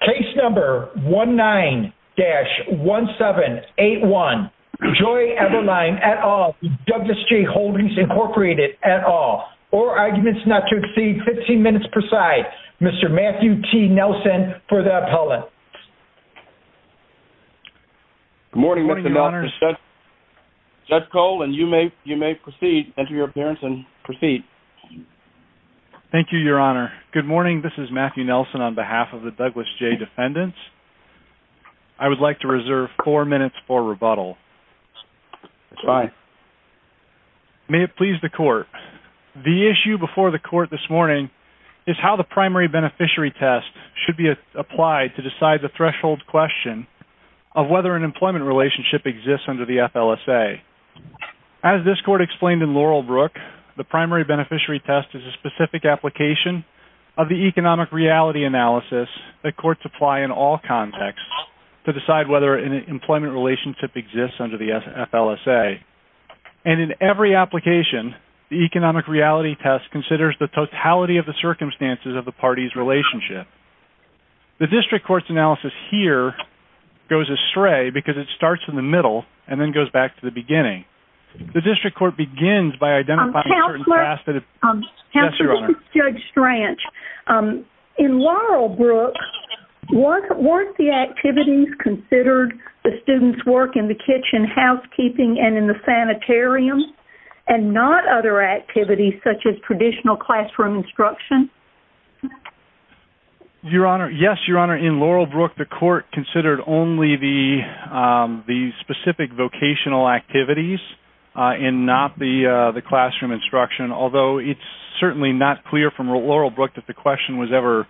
Case number 19-1781, Joy Eberline v. Douglas J Holdings Inc at all, or arguments not to exceed 15 minutes per side. Mr. Matthew T. Nelson for the appellate. Good morning Mr. Judge. Judge Cole and you may proceed, enter your appearance and proceed. Thank you, Your Honor. Good morning, this is Matthew Nelson on behalf of the Douglas J defendants. I would like to reserve four minutes for rebuttal. May it please the court. The issue before the court this morning is how the primary beneficiary test should be applied to decide the threshold question of whether an employment relationship exists under the FLSA. As this court explained in Laurel Brook, the primary beneficiary test is a specific application of the economic reality analysis that courts apply in all contexts to decide whether an employment relationship exists under the FLSA. And in every application, the economic reality test considers the totality of the circumstances of the parties relationship. The district court's analysis here goes astray because it starts in the middle and then goes back to the beginning. The district court begins by identifying certain... Counselor, this is Judge Stranch. In Laurel Brook, weren't the activities considered, the students work in the kitchen, housekeeping, and in the sanitarium, and not other activities such as traditional classroom instruction? Your Honor, yes, Your Honor. In Laurel Brook, the court considered only the specific vocational activities and not the classroom instruction, although it's certainly not clear from Laurel Brook that the question was ever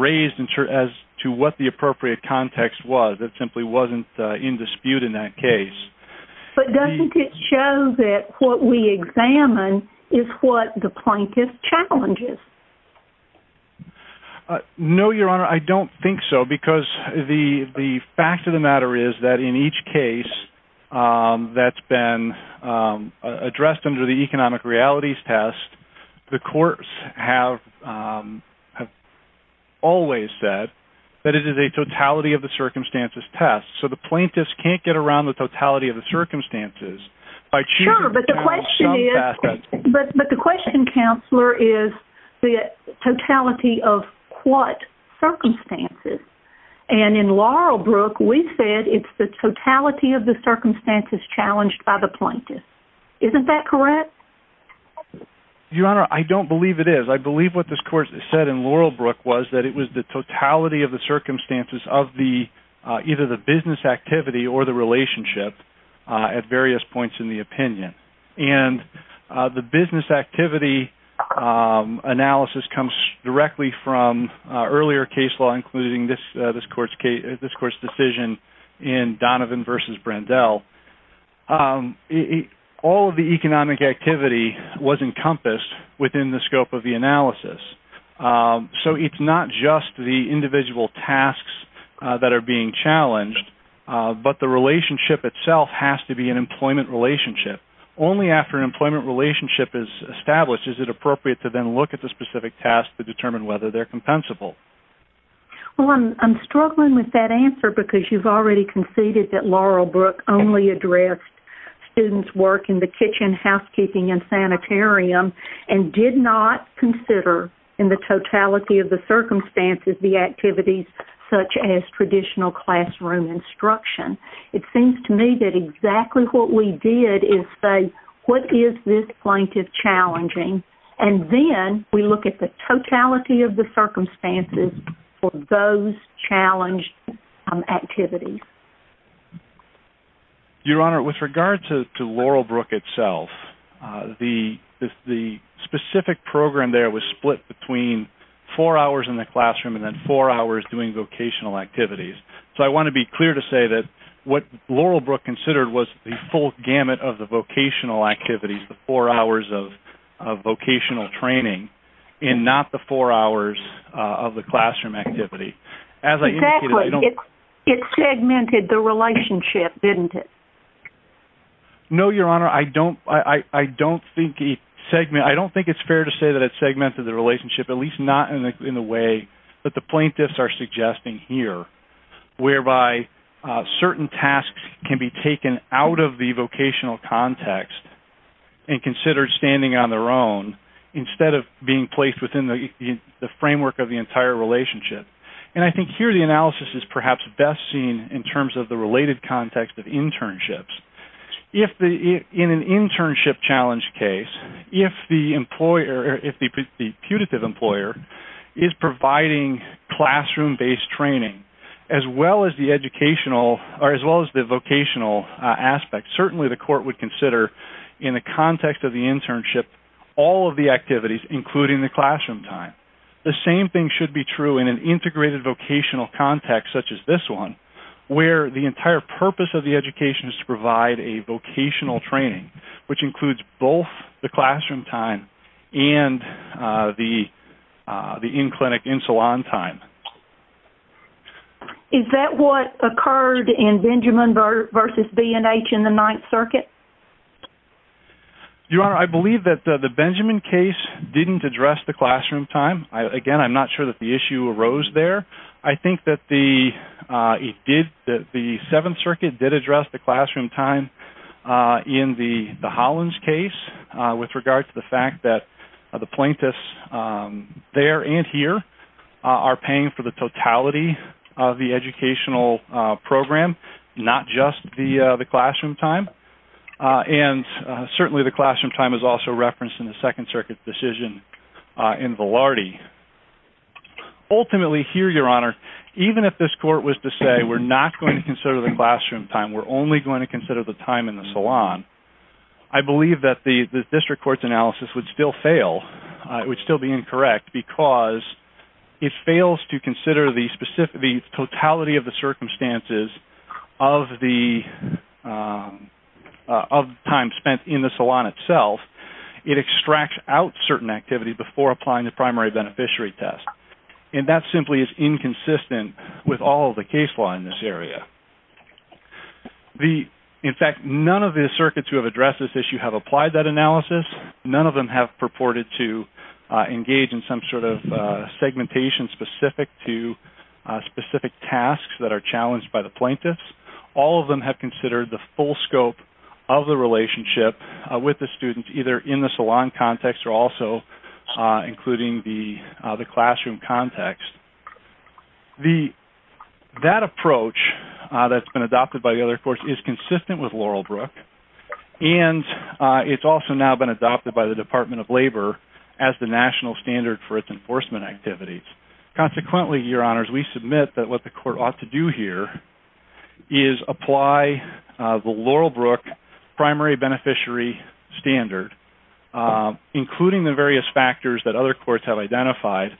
raised as to what the appropriate context was. It simply wasn't in dispute in that case. But doesn't it show that what we examine is what the plaintiff challenges? No, Your Honor, I don't think so because the fact of the matter is that in each case that's been addressed under the economic realities test, the courts have always said that it is a totality of the circumstances test. So the plaintiffs can't get around the totality of the circumstances. Sure, but the question, Counselor, is the totality of what circumstances? And in Laurel Brook, we said it's the totality of the circumstances challenged by the plaintiff. Isn't that correct? Your Honor, I don't believe it is. I believe what this court said in Laurel Brook was that it was the totality of the circumstances of either the business activity or the relationship at various points in the opinion. And the business activity analysis comes directly from earlier case law, including this court's decision in Donovan v. Brandel. All of the economic activity was encompassed within the scope of the analysis. So it's not just the individual tasks that are being challenged, but the relationship itself has to be an employment relationship. Only after an employment relationship is established is it appropriate to then look at the specific tasks to determine whether they're compensable. Well, I'm struggling with that answer because you've already conceded that Laurel Brook only addressed students' work in the kitchen, housekeeping, and sanitarium and did not consider in the totality of the circumstances the activities such as traditional classroom instruction. It seems to me that exactly what we did is say, what is this plaintiff challenging? And then we look at the totality of the circumstances for those challenged activities. Your Honor, with regard to Laurel Brook itself, the specific program there was split between four hours in the classroom and then four hours doing vocational activities. So I want to be clear to say that what Laurel Brook considered was the full gamut of the vocational activities, the four hours of vocational training and not the four hours of the classroom activity. Exactly. It segmented the relationship, didn't it? No, Your Honor. I don't think it's fair to say that it segmented the relationship, at least not in the way that the plaintiffs are suggesting here, whereby certain tasks can be taken out of the vocational context and considered standing on their own instead of being placed within the framework of the entire relationship. And I think here the analysis is perhaps best seen in terms of the related context of internships. In an internship challenge case, if the putative employer is providing classroom-based training as well as the educational or as well as the vocational aspect, certainly the court would consider in the context of the internship all of the activities, including the classroom time. The same thing should be true in an integrated vocational context such as this one, where the entire purpose of the education is to provide a vocational training, which includes both the classroom time and the in-clinic, in-salon time. Is that what occurred in Benjamin v. B&H in the Ninth Circuit? Your Honor, I believe that the Benjamin case didn't address the classroom time. Again, I'm not sure that the issue arose there. I think that the Seventh Circuit did address the classroom time in the Hollins case with regard to the fact that the plaintiffs there and here are paying for the totality of the educational program, not just the classroom time. And certainly the classroom time is also referenced in the Second Circuit decision in Velarde. Ultimately here, Your Honor, even if this court was to say, we're not going to consider the classroom time, we're only going to consider the time in the salon, I believe that the district court's analysis would still fail. It would still be incorrect because it fails to consider the totality of the circumstances of the time spent in the salon itself. It extracts out certain activities before applying the primary beneficiary test. And that simply is inconsistent with all of the case law in this area. In fact, none of the circuits who have addressed this issue have applied that analysis. None of them have purported to engage in some sort of segmentation specific to specific tasks that are challenged by the plaintiffs. All of them have considered the full scope of the relationship with the students either in the salon context or also including the classroom context. That approach that's been adopted by the other courts is consistent with Laurelbrook and it's also now been adopted by the Department of Labor as the national standard for its enforcement activities. Consequently, Your Honors, we submit that what the court ought to do here is apply the Laurelbrook primary beneficiary standard, including the various factors that other courts have identified,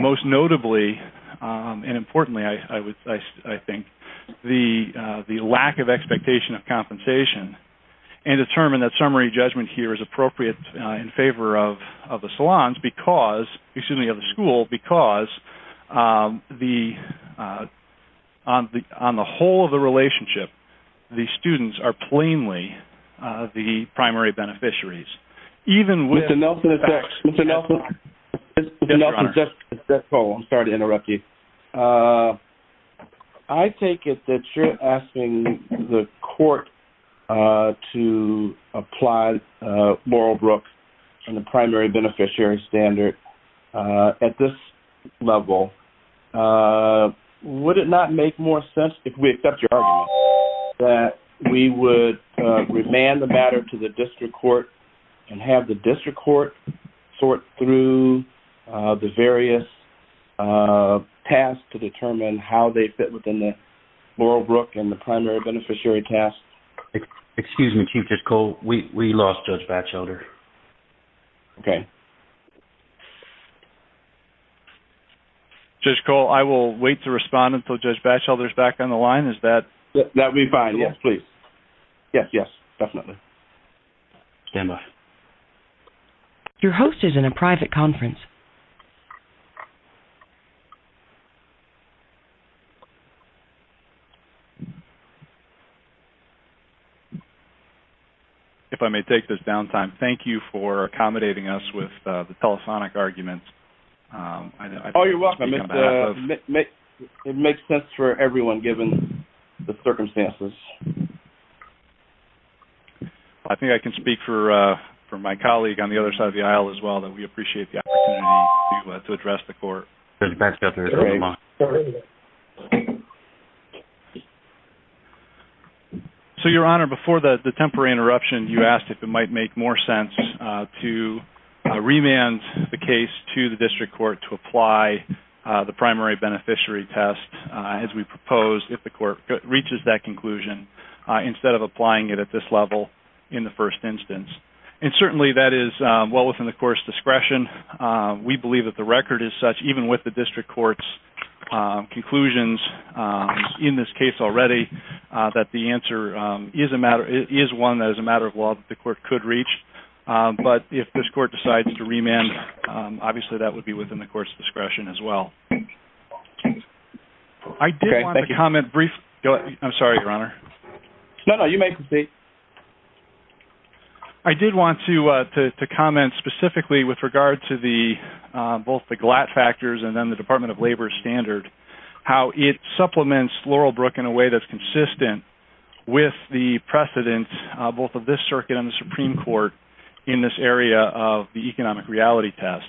most notably and importantly, I think, the lack of expectation of compensation and determine that summary judgment here is appropriate in favor of the salons because, excuse me, of the school because on the whole of the relationship, the students are plainly the primary beneficiaries. Mr. Nelson, I'm sorry to interrupt you. I take it that you're asking the court to apply Laurelbrook and the primary beneficiary standard at this level. Would it not make more sense, if we accept your argument, that we would remand the matter to the district court and have the district court sort through the various tasks to determine how they fit within the Laurelbrook and the primary beneficiary tasks? Excuse me, Chief Judge Cole, we lost Judge Batchelder. Okay. Judge Cole, I will wait to respond until Judge Batchelder is back on the line. That would be fine, yes, please. Yes, yes, definitely. Stand by. Your host is in a private conference. If I may take this downtime, thank you for accommodating us with the telephonic arguments. Oh, you're welcome. It makes sense for everyone given the circumstances. I think I can speak for my colleague on the other side of the aisle as well that we appreciate the opportunity to address the court. Judge Batchelder is on the line. So, Your Honor, before the temporary interruption, you asked if it might make more sense to remand the case to the district court to apply the primary beneficiary test, as we proposed, if the court reaches that conclusion, instead of applying it at this level in the first instance. And certainly that is well within the court's discretion. We believe that the record is such, even with the district court's conclusions in this case already, that the answer is one that is a matter of law that the court could reach. But if this court decides to remand, obviously that would be within the court's discretion as well. I did want to comment briefly. I'm sorry, Your Honor. No, no, you may proceed. I did want to comment specifically with regard to both the GLAT factors and then the Department of Labor standard, how it supplements Laurelbrook in a way that's consistent with the precedent, both of this circuit and the Supreme Court, in this area of the economic reality test.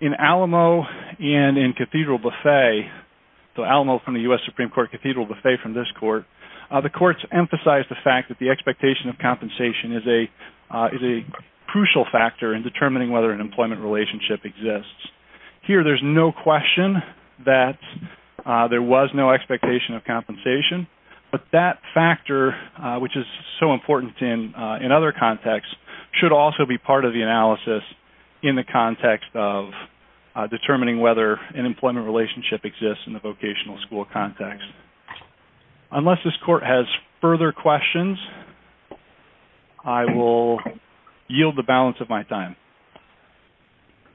In Alamo and in Cathedral Buffet, so Alamo from the U.S. Supreme Court, Cathedral Buffet from this court, the courts emphasize the fact that the expectation of compensation is a crucial factor in determining whether an employment relationship exists. Here, there's no question that there was no expectation of compensation, but that factor, which is so important in other contexts, should also be part of the analysis in the context of determining whether an employment relationship exists in the vocational school context. Unless this court has further questions, I will yield the balance of my time.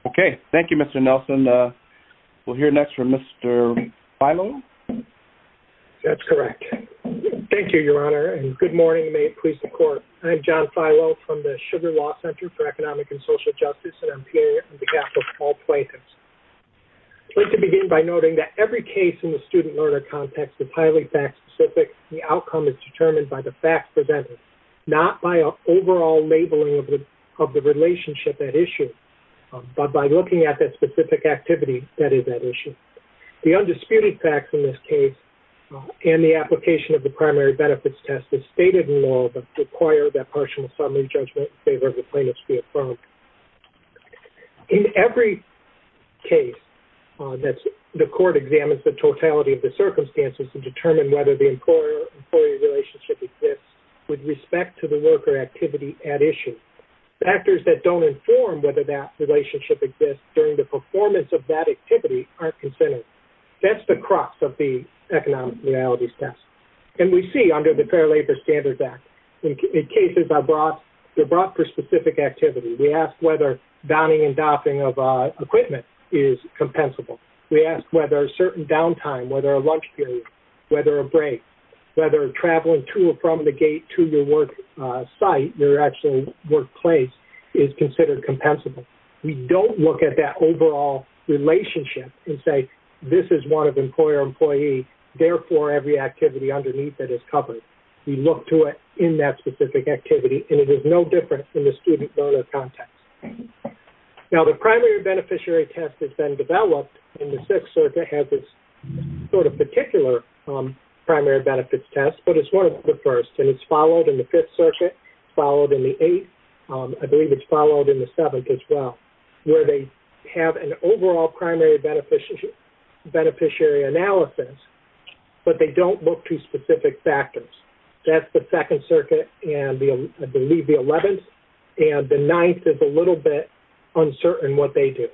Okay. Thank you, Mr. Nelson. We'll hear next from Mr. Filo. That's correct. Thank you, Your Honor, and good morning to my police and court. I'm John Filo from the Sugar Law Center for Economic and Social Justice, and I'm here on behalf of all plaintiffs. I'd like to begin by noting that every case in the student-learner context is highly fact-specific. The outcome is determined by the facts presented, not by an overall labeling of the relationship at issue, but by looking at that specific activity that is at issue. The undisputed facts in this case and the application of the primary benefits test is stated in law, but require that partial summary judgment in favor of the plaintiffs be affirmed. In every case, the court examines the totality of the circumstances to determine whether the employer-employee relationship exists with respect to the worker activity at issue. Factors that don't inform whether that relationship exists during the performance of that activity aren't considered. That's the crux of the economic realities test. And we see under the Fair Labor Standards Act, in cases I brought, they're brought for specific activity. We ask whether downing and doffing of equipment is compensable. We ask whether a certain downtime, whether a lunch period, whether a break, whether traveling to or from the gate to your work site, your actual workplace, is considered compensable. We don't look at that overall relationship and say, this is one of employer-employee, therefore, every activity underneath it is covered. We look to it in that specific activity, and it is no different in the student-learner context. Now, the primary beneficiary test has been developed, and the Sixth Circuit has its sort of particular primary benefits test, but it's one of the first. And it's followed in the Fifth Circuit, followed in the Eighth, I believe it's followed in the Seventh as well, where they have an overall primary beneficiary analysis, but they don't look to specific factors. That's the Second Circuit and I believe the Eleventh, and the Ninth is a little bit uncertain what they do.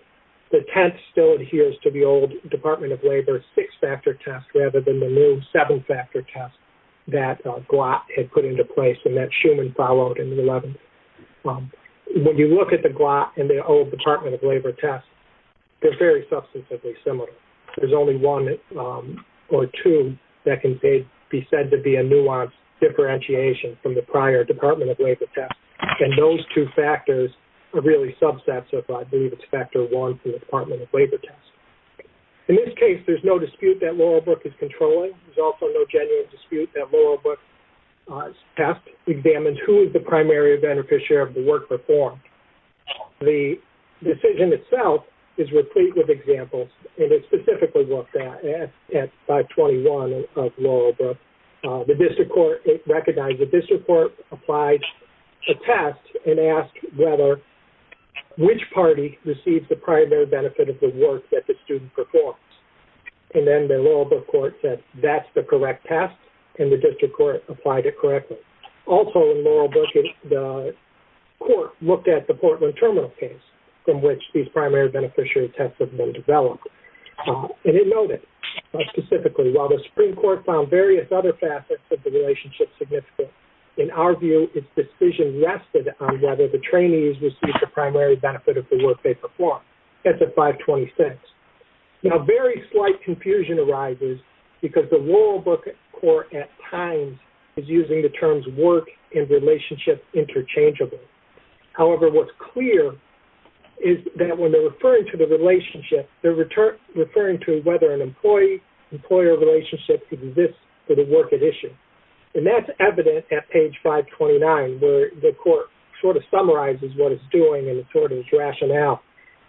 The Tenth still adheres to the old Department of Labor six-factor test rather than the new seven-factor test that GLAAT had put into place and that Schumann followed in the Eleventh. When you look at the GLAAT and the old Department of Labor test, they're very substantively similar. There's only one or two that can be said to be a nuanced differentiation from the prior Department of Labor test. And those two factors are really subsets of, I believe, it's factor one from the Department of Labor test. In this case, there's no dispute that Laurelbrook is controlling. There's also no genuine dispute that Laurelbrook test examines who is the primary beneficiary of the work performed. The decision itself is replete with examples, and it's specifically looked at at 521 of Laurelbrook. The district court, it recognized the district court applied a test and asked whether which party receives the primary benefit of the work that the student performs. And then the Laurelbrook court said that's the correct test and the district court applied it correctly. Also in Laurelbrook, the court looked at the Portland Terminal case from which these primary beneficiary tests have been developed. And it noted specifically, while the Supreme Court found various other facets of the relationship significant, in our view, its decision rested on whether the trainees received the primary benefit of the work they performed. That's at 526. Now, very slight confusion arises because the Laurelbrook court at times is using the terms work and relationship interchangeably. However, what's clear is that when they're referring to the relationship, they're referring to whether an employee-employer relationship exists for the work at issue. And that's evident at page 529 where the court sort of summarizes what it's doing and it sort of is rationed out.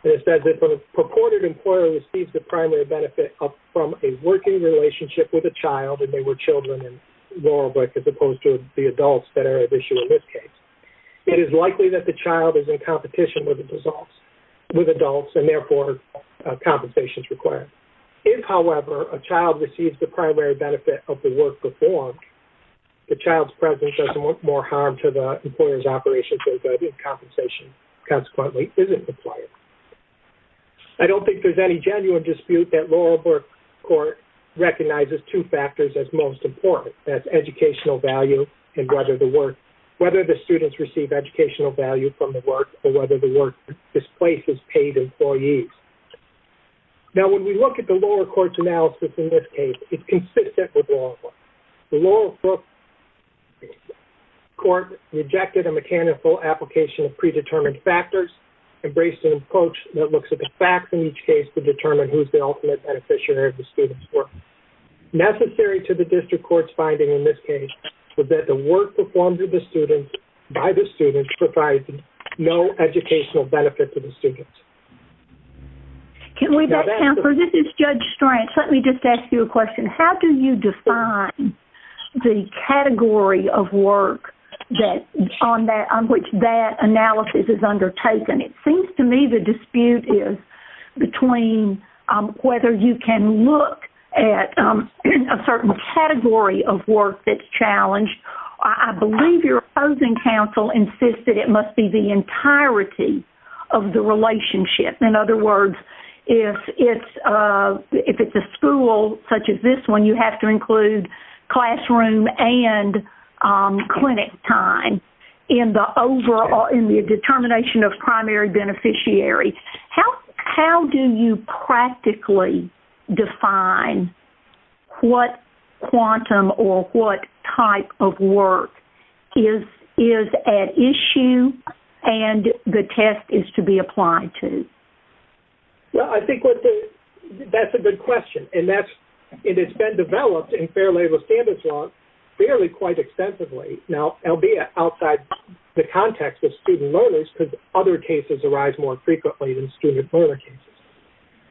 And it says that the purported employer receives the primary benefit from a working relationship with a child, and they were children in Laurelbrook as opposed to the adults that are at issue in this case. It is likely that the child is in competition with adults and, therefore, compensation is required. If, however, a child receives the primary benefit of the work performed, the child's presence does more harm to the employer's operations and compensation, consequently, isn't required. I don't think there's any genuine dispute that Laurelbrook court recognizes two factors as most important. That's educational value and whether the students receive educational value from the work or whether the work displaces paid employees. Now, when we look at the Laurelbrook court's analysis in this case, it's consistent with Laurelbrook. The Laurelbrook court rejected a mechanical application of predetermined factors, embraced an approach that looks at the facts in each case to determine who's the ultimate beneficiary of the student's work. Necessary to the district court's finding in this case was that the work performed by the students provides no educational benefit to the students. Can we back, Counselor? This is Judge Strang. Let me just ask you a question. How do you define the category of work on which that analysis is undertaken? It seems to me the dispute is between whether you can look at a certain category of work that's challenged. I believe your opposing counsel insists that it must be the entirety of the relationship. In other words, if it's a school such as this one, you have to include classroom and clinic time in the determination of primary beneficiary. How do you practically define what quantum or what type of work is at issue and the test is to be applied to? Well, I think that's a good question. And it's been developed in Fair Labor Standards law fairly quite extensively. Now, albeit outside the context of student learners because other cases arise more frequently than student learner cases.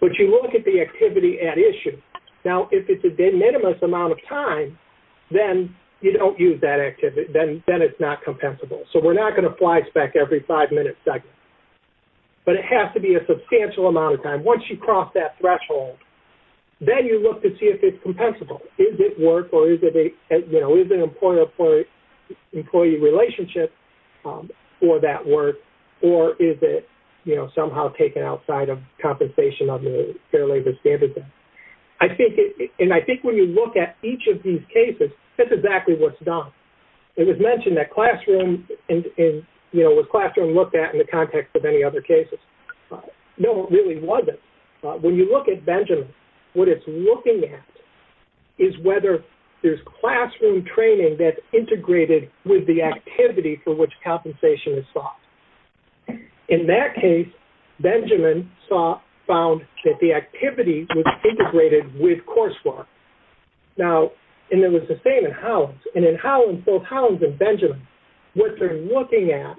But you look at the activity at issue. Now, if it's a de minimis amount of time, then you don't use that activity. Then it's not compensable. So we're not going to fly spec every five-minute segment. But it has to be a substantial amount of time. Once you cross that threshold, then you look to see if it's compensable. Is it work or is it an employer-employee relationship for that work? Or is it somehow taken outside of compensation of the Fair Labor Standards Act? And I think when you look at each of these cases, that's exactly what's done. It was mentioned that classroom and, you know, was classroom looked at in the context of any other cases. No, it really wasn't. When you look at Benjamin, what it's looking at is whether there's classroom training that's integrated with the activity for which compensation is sought. In that case, Benjamin found that the activity was integrated with coursework. Now, and it was the same in Hollins. And in Hollins, both Hollins and Benjamin, what they're looking at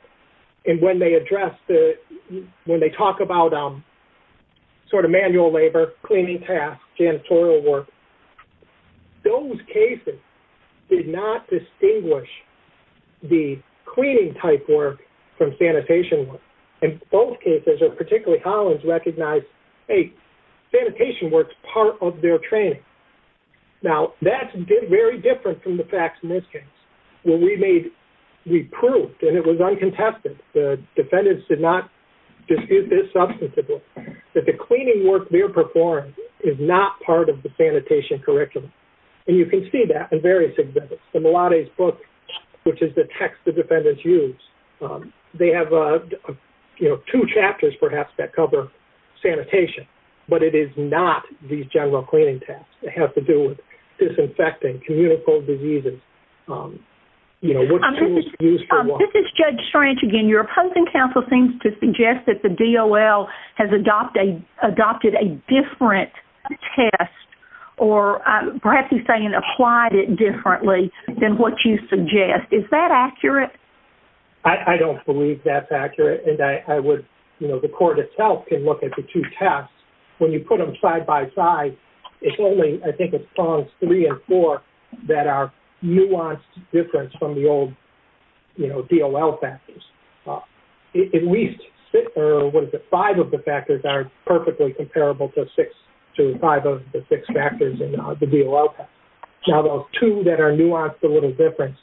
and when they address the – when they talk about sort of manual labor, cleaning tasks, janitorial work, those cases did not distinguish the cleaning-type work from sanitation work. And both cases, or particularly Hollins, recognized, hey, sanitation work's part of their training. Now, that's very different from the facts in this case, where we made – we proved, and it was uncontested, the defendants did not dispute this substantively, that the cleaning work they're performing is not part of the sanitation curriculum. And you can see that in various exhibits. The Milates book, which is the text the defendants use, they have, you know, two chapters, perhaps, that cover sanitation. But it is not these general cleaning tasks. It has to do with disinfecting, communicable diseases, you know, what tools are used for what. This is Judge Strange again. Your opposing counsel seems to suggest that the DOL has adopted a different test, or perhaps he's saying applied it differently than what you suggest. Is that accurate? I don't believe that's accurate, and I would, you know, the court itself can look at the two tests. When you put them side-by-side, it's only, I think, as long as three and four that are nuanced difference from the old, you know, DOL factors. At least, or what is it, five of the factors are perfectly comparable to five of the six factors in the DOL test. Now, those two that are nuanced a little difference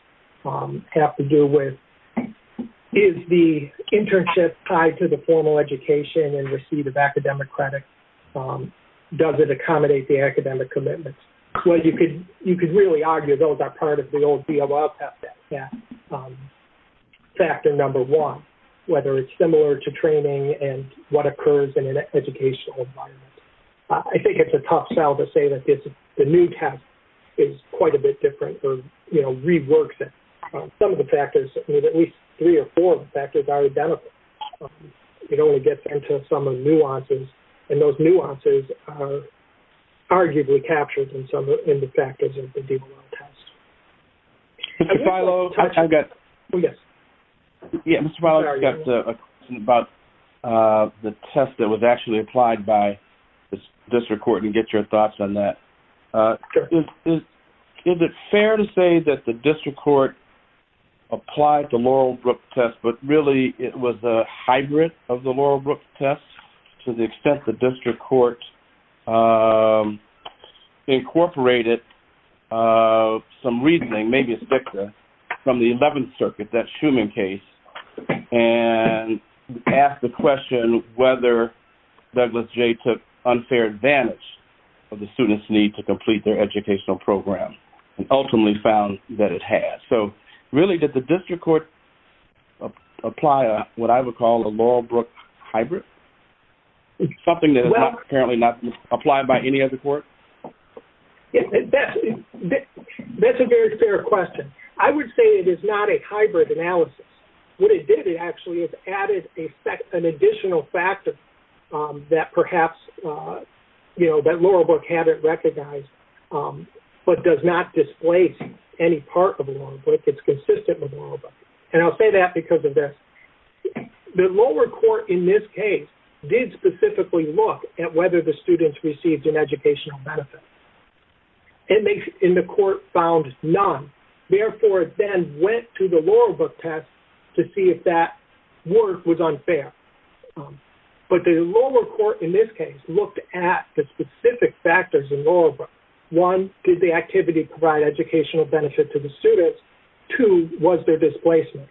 have to do with, is the internship tied to the formal education and receipt of academic credit? Does it accommodate the academic commitments? Well, you could really argue those are part of the old DOL test, yeah. Factor number one, whether it's similar to training and what occurs in an educational environment. I think it's a tough sell to say that the new test is quite a bit different or, you know, reworks it. Some of the factors, at least three or four of the factors are identical. It only gets into some of the nuances, and those nuances are arguably captured in the factors of the DOL test. Mr. Filo, I've got... Oh, yes. Yeah, Mr. Filo, I've got a question about the test that was actually applied by the district court, and get your thoughts on that. Is it fair to say that the district court applied the Laurel Brooks test, but really it was a hybrid of the Laurel Brooks test, to the extent the district court incorporated some reasoning, maybe it's Victor, from the 11th Circuit, that Schumann case, and asked the question whether Douglas J. took unfair advantage of the student's need to complete their educational program, and ultimately found that it had. So, really, did the district court apply what I would call a Laurel Brooks hybrid? Something that is apparently not applied by any other court? That's a very fair question. I would say it is not a hybrid analysis. What it did, it actually added an additional factor that perhaps, you know, that Laurel Brooks hadn't recognized, but does not displace any part of Laurel Brooks, it's consistent with Laurel Brooks. And I'll say that because of this. The lower court, in this case, did specifically look at whether the students received an educational benefit. And they, in the court, found none. Therefore, it then went to the Laurel Brooks test to see if that work was unfair. But the lower court, in this case, looked at the specific factors in Laurel Brooks. One, did the activity provide educational benefit to the students? Two, was there displacement?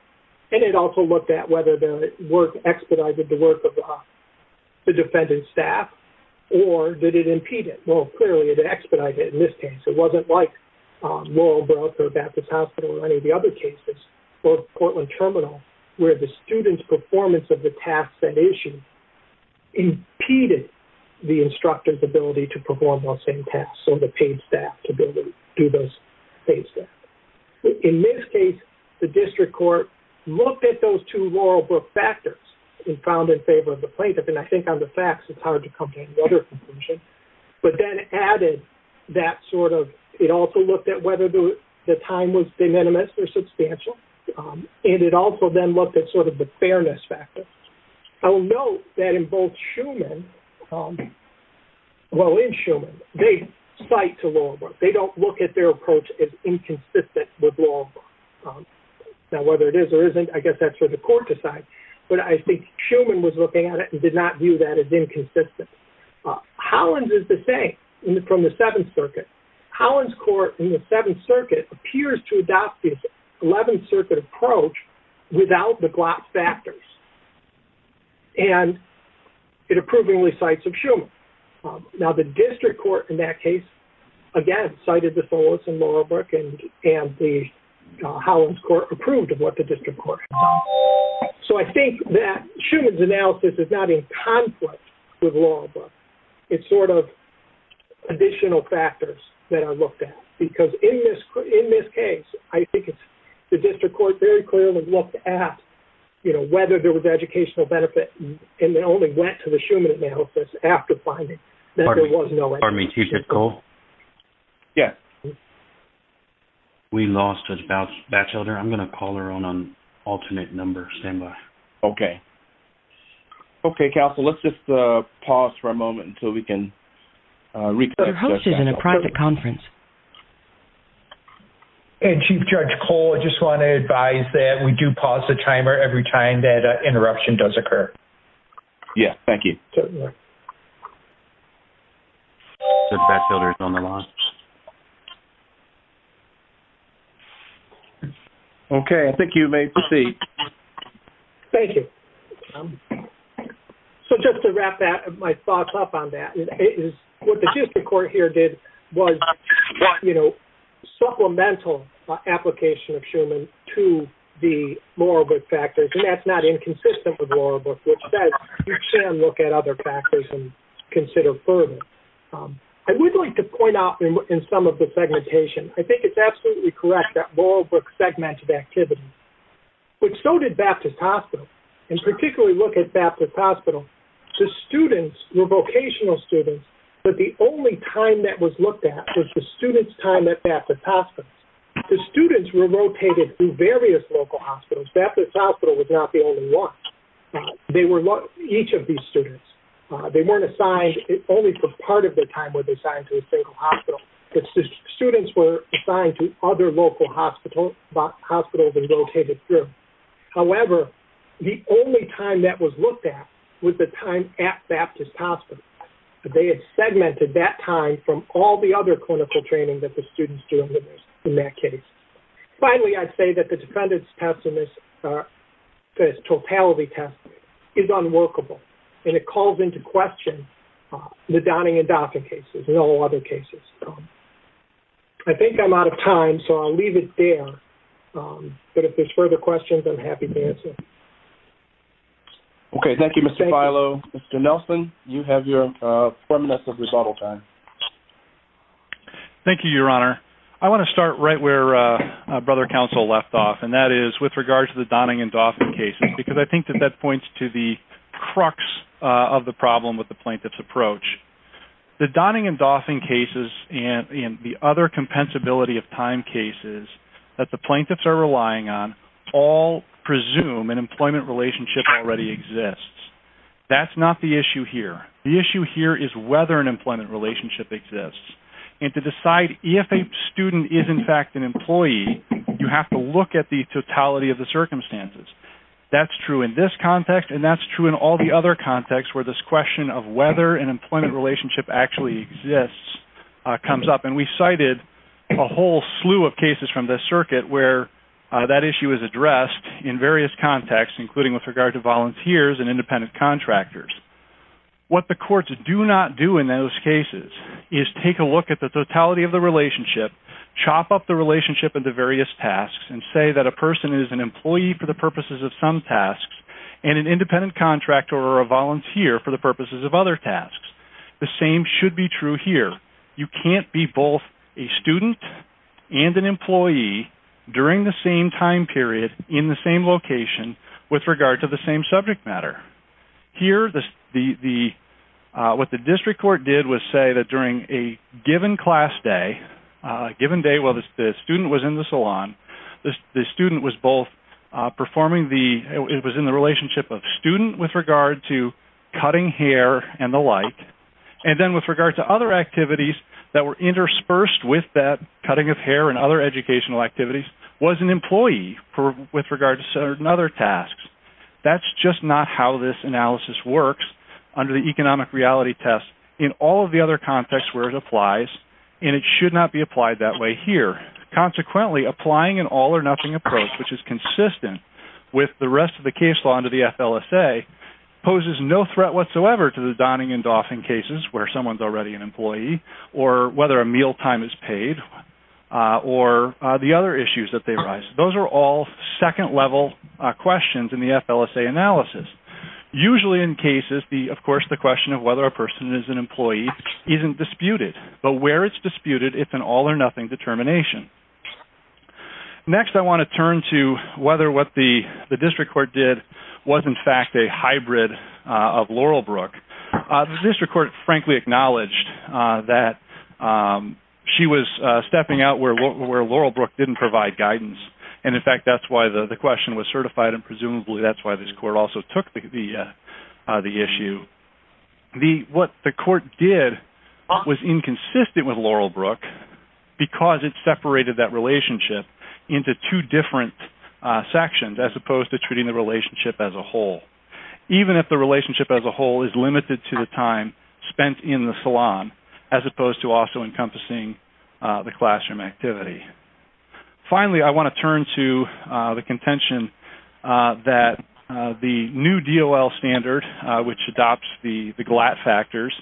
And it also looked at whether the work expedited the work of the defendant's staff, or did it impede it? Well, clearly, it expedited it in this case. It wasn't like Laurel Brooks or Baptist Hospital or any of the other cases, or Portland Terminal, where the students' performance of the tasks that issue impeded the instructor's ability to perform those same tasks, or the paid staff to be able to do those things. In this case, the district court looked at those two Laurel Brooks factors and found in favor of the plaintiff. And I think on the facts, it's hard to come to any other conclusion. But then it added that sort of, it also looked at whether the time was de minimis or substantial. And it also then looked at sort of the fairness factor. I will note that in both Schuman, well, in Schuman, they cite to Laurel Brooks. They don't look at their approach as inconsistent with Laurel Brooks. Now, whether it is or isn't, I guess that's for the court to decide. But I think Schuman was looking at it and did not view that as inconsistent. Hollins is the same, from the Seventh Circuit. Hollins Court in the Seventh Circuit appears to adopt the Eleventh Circuit approach without the Glock factors. And it approvingly cites of Schuman. Now, the district court in that case, again, cited the Tholos and Laurel Brooks, and the Hollins Court approved of what the district court had done. So I think that Schuman's analysis is not in conflict with Laurel Brooks. It's sort of additional factors that are looked at. Because in this case, I think it's the district court very clearly looked at, you know, whether there was educational benefit, and they only went to the Schuman analysis after finding that there was no educational benefit. Pardon me, Chief Jitko? Yes. We lost a bachelor. I'm going to call her on alternate numbers. Stand by. Okay. Okay, counsel, let's just pause for a moment until we can reconnect. Your host is in a private conference. And Chief Judge Cole, I just want to advise that we do pause the timer every time that an interruption does occur. Yes, thank you. The bachelor is on the line. Okay, I think you may proceed. Thank you. So just to wrap my thoughts up on that, what the district court here did was, you know, supplemental application of Schuman to the Laurel Brooks factors, and that's not inconsistent with Laurel Brooks, which says you can look at other factors and consider further. I would like to point out in some of the segmentation, I think it's absolutely correct that Laurel Brooks segmented activity, but so did Baptist Hospital, and particularly look at Baptist Hospital. The students were vocational students, but the only time that was looked at was the students' time at Baptist Hospital. The students were rotated through various local hospitals. Baptist Hospital was not the only one. They were each of these students. They weren't assigned only for part of their time were they assigned to a single hospital. The students were assigned to other local hospitals and rotated through. However, the only time that was looked at was the time at Baptist Hospital. They had segmented that time from all the other clinical training that the students do in that case. Finally, I'd say that the defendant's totality test is unworkable, and it calls into question the Donning and Doffin cases and all other cases. I think I'm out of time, so I'll leave it there, but if there's further questions, I'm happy to answer. Okay, thank you, Mr. Filo. Mr. Nelson, you have your four minutes of rebuttal time. Thank you, Your Honor. I want to start right where Brother Counsel left off, and that is with regard to the Donning and Doffin cases, because I think that that points to the crux of the problem with the plaintiff's approach. The Donning and Doffin cases and the other compensability of time cases that the plaintiffs are relying on all presume an employment relationship already exists. That's not the issue here. The issue here is whether an employment relationship exists. And to decide if a student is, in fact, an employee, you have to look at the totality of the circumstances. That's true in this context, and that's true in all the other contexts where this question of whether an employment relationship actually exists comes up. And we cited a whole slew of cases from this circuit where that issue is addressed in various contexts, including with regard to volunteers and independent contractors. What the courts do not do in those cases is take a look at the totality of the relationship, chop up the relationship into various tasks, and say that a person is an employee for the purposes of some tasks, and an independent contractor or a volunteer for the purposes of other tasks. The same should be true here. You can't be both a student and an employee during the same time period in the same location with regard to the same subject matter. Here, what the district court did was say that during a given class day, a given day while the student was in the salon, the student was both performing the, it was in the relationship of student with regard to cutting hair and the like, and then with regard to other activities that were interspersed with that cutting of hair and other educational activities, was an employee with regard to certain other tasks. That's just not how this analysis works under the economic reality test in all of the other contexts where it applies, and it should not be applied that way here. Consequently, applying an all-or-nothing approach, which is consistent with the rest of the case law under the FLSA, poses no threat whatsoever to the Donning and Dauphin cases where someone's already an employee, or whether a meal time is paid, or the other issues that arise. Those are all second-level questions in the FLSA analysis. Usually in cases, of course, the question of whether a person is an employee isn't disputed, and where it's disputed is an all-or-nothing determination. Next, I want to turn to whether what the district court did was in fact a hybrid of Laurelbrook. The district court frankly acknowledged that she was stepping out where Laurelbrook didn't provide guidance, and in fact that's why the question was certified, and presumably that's why this court also took the issue. What the court did was inconsistent with Laurelbrook because it separated that relationship into two different sections, as opposed to treating the relationship as a whole, even if the relationship as a whole is limited to the time spent in the salon, as opposed to also encompassing the classroom activity. Finally, I want to turn to the contention that the new DOL standard, which adopts the GLAT factors,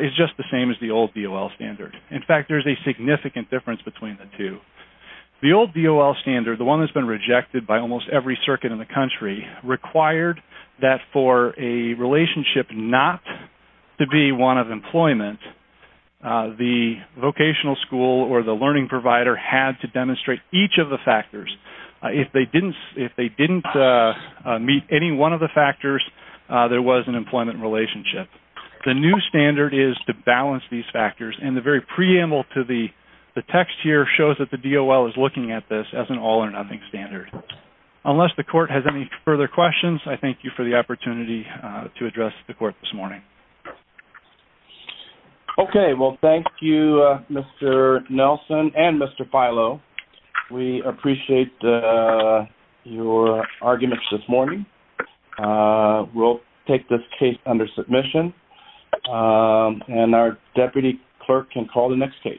is just the same as the old DOL standard. In fact, there's a significant difference between the two. The old DOL standard, the one that's been rejected by almost every circuit in the country, required that for a relationship not to be one of employment, the vocational school or the learning provider had to demonstrate each of the factors. If they didn't meet any one of the factors, it was an employment relationship. The new standard is to balance these factors, and the very preamble to the text here shows that the DOL is looking at this as an all-or-nothing standard. Unless the court has any further questions, I thank you for the opportunity to address the court this morning. Okay, well thank you Mr. Nelson and Mr. Filo. We appreciate your arguments this morning. We'll take this case under submission, and our deputy clerk can call the next case.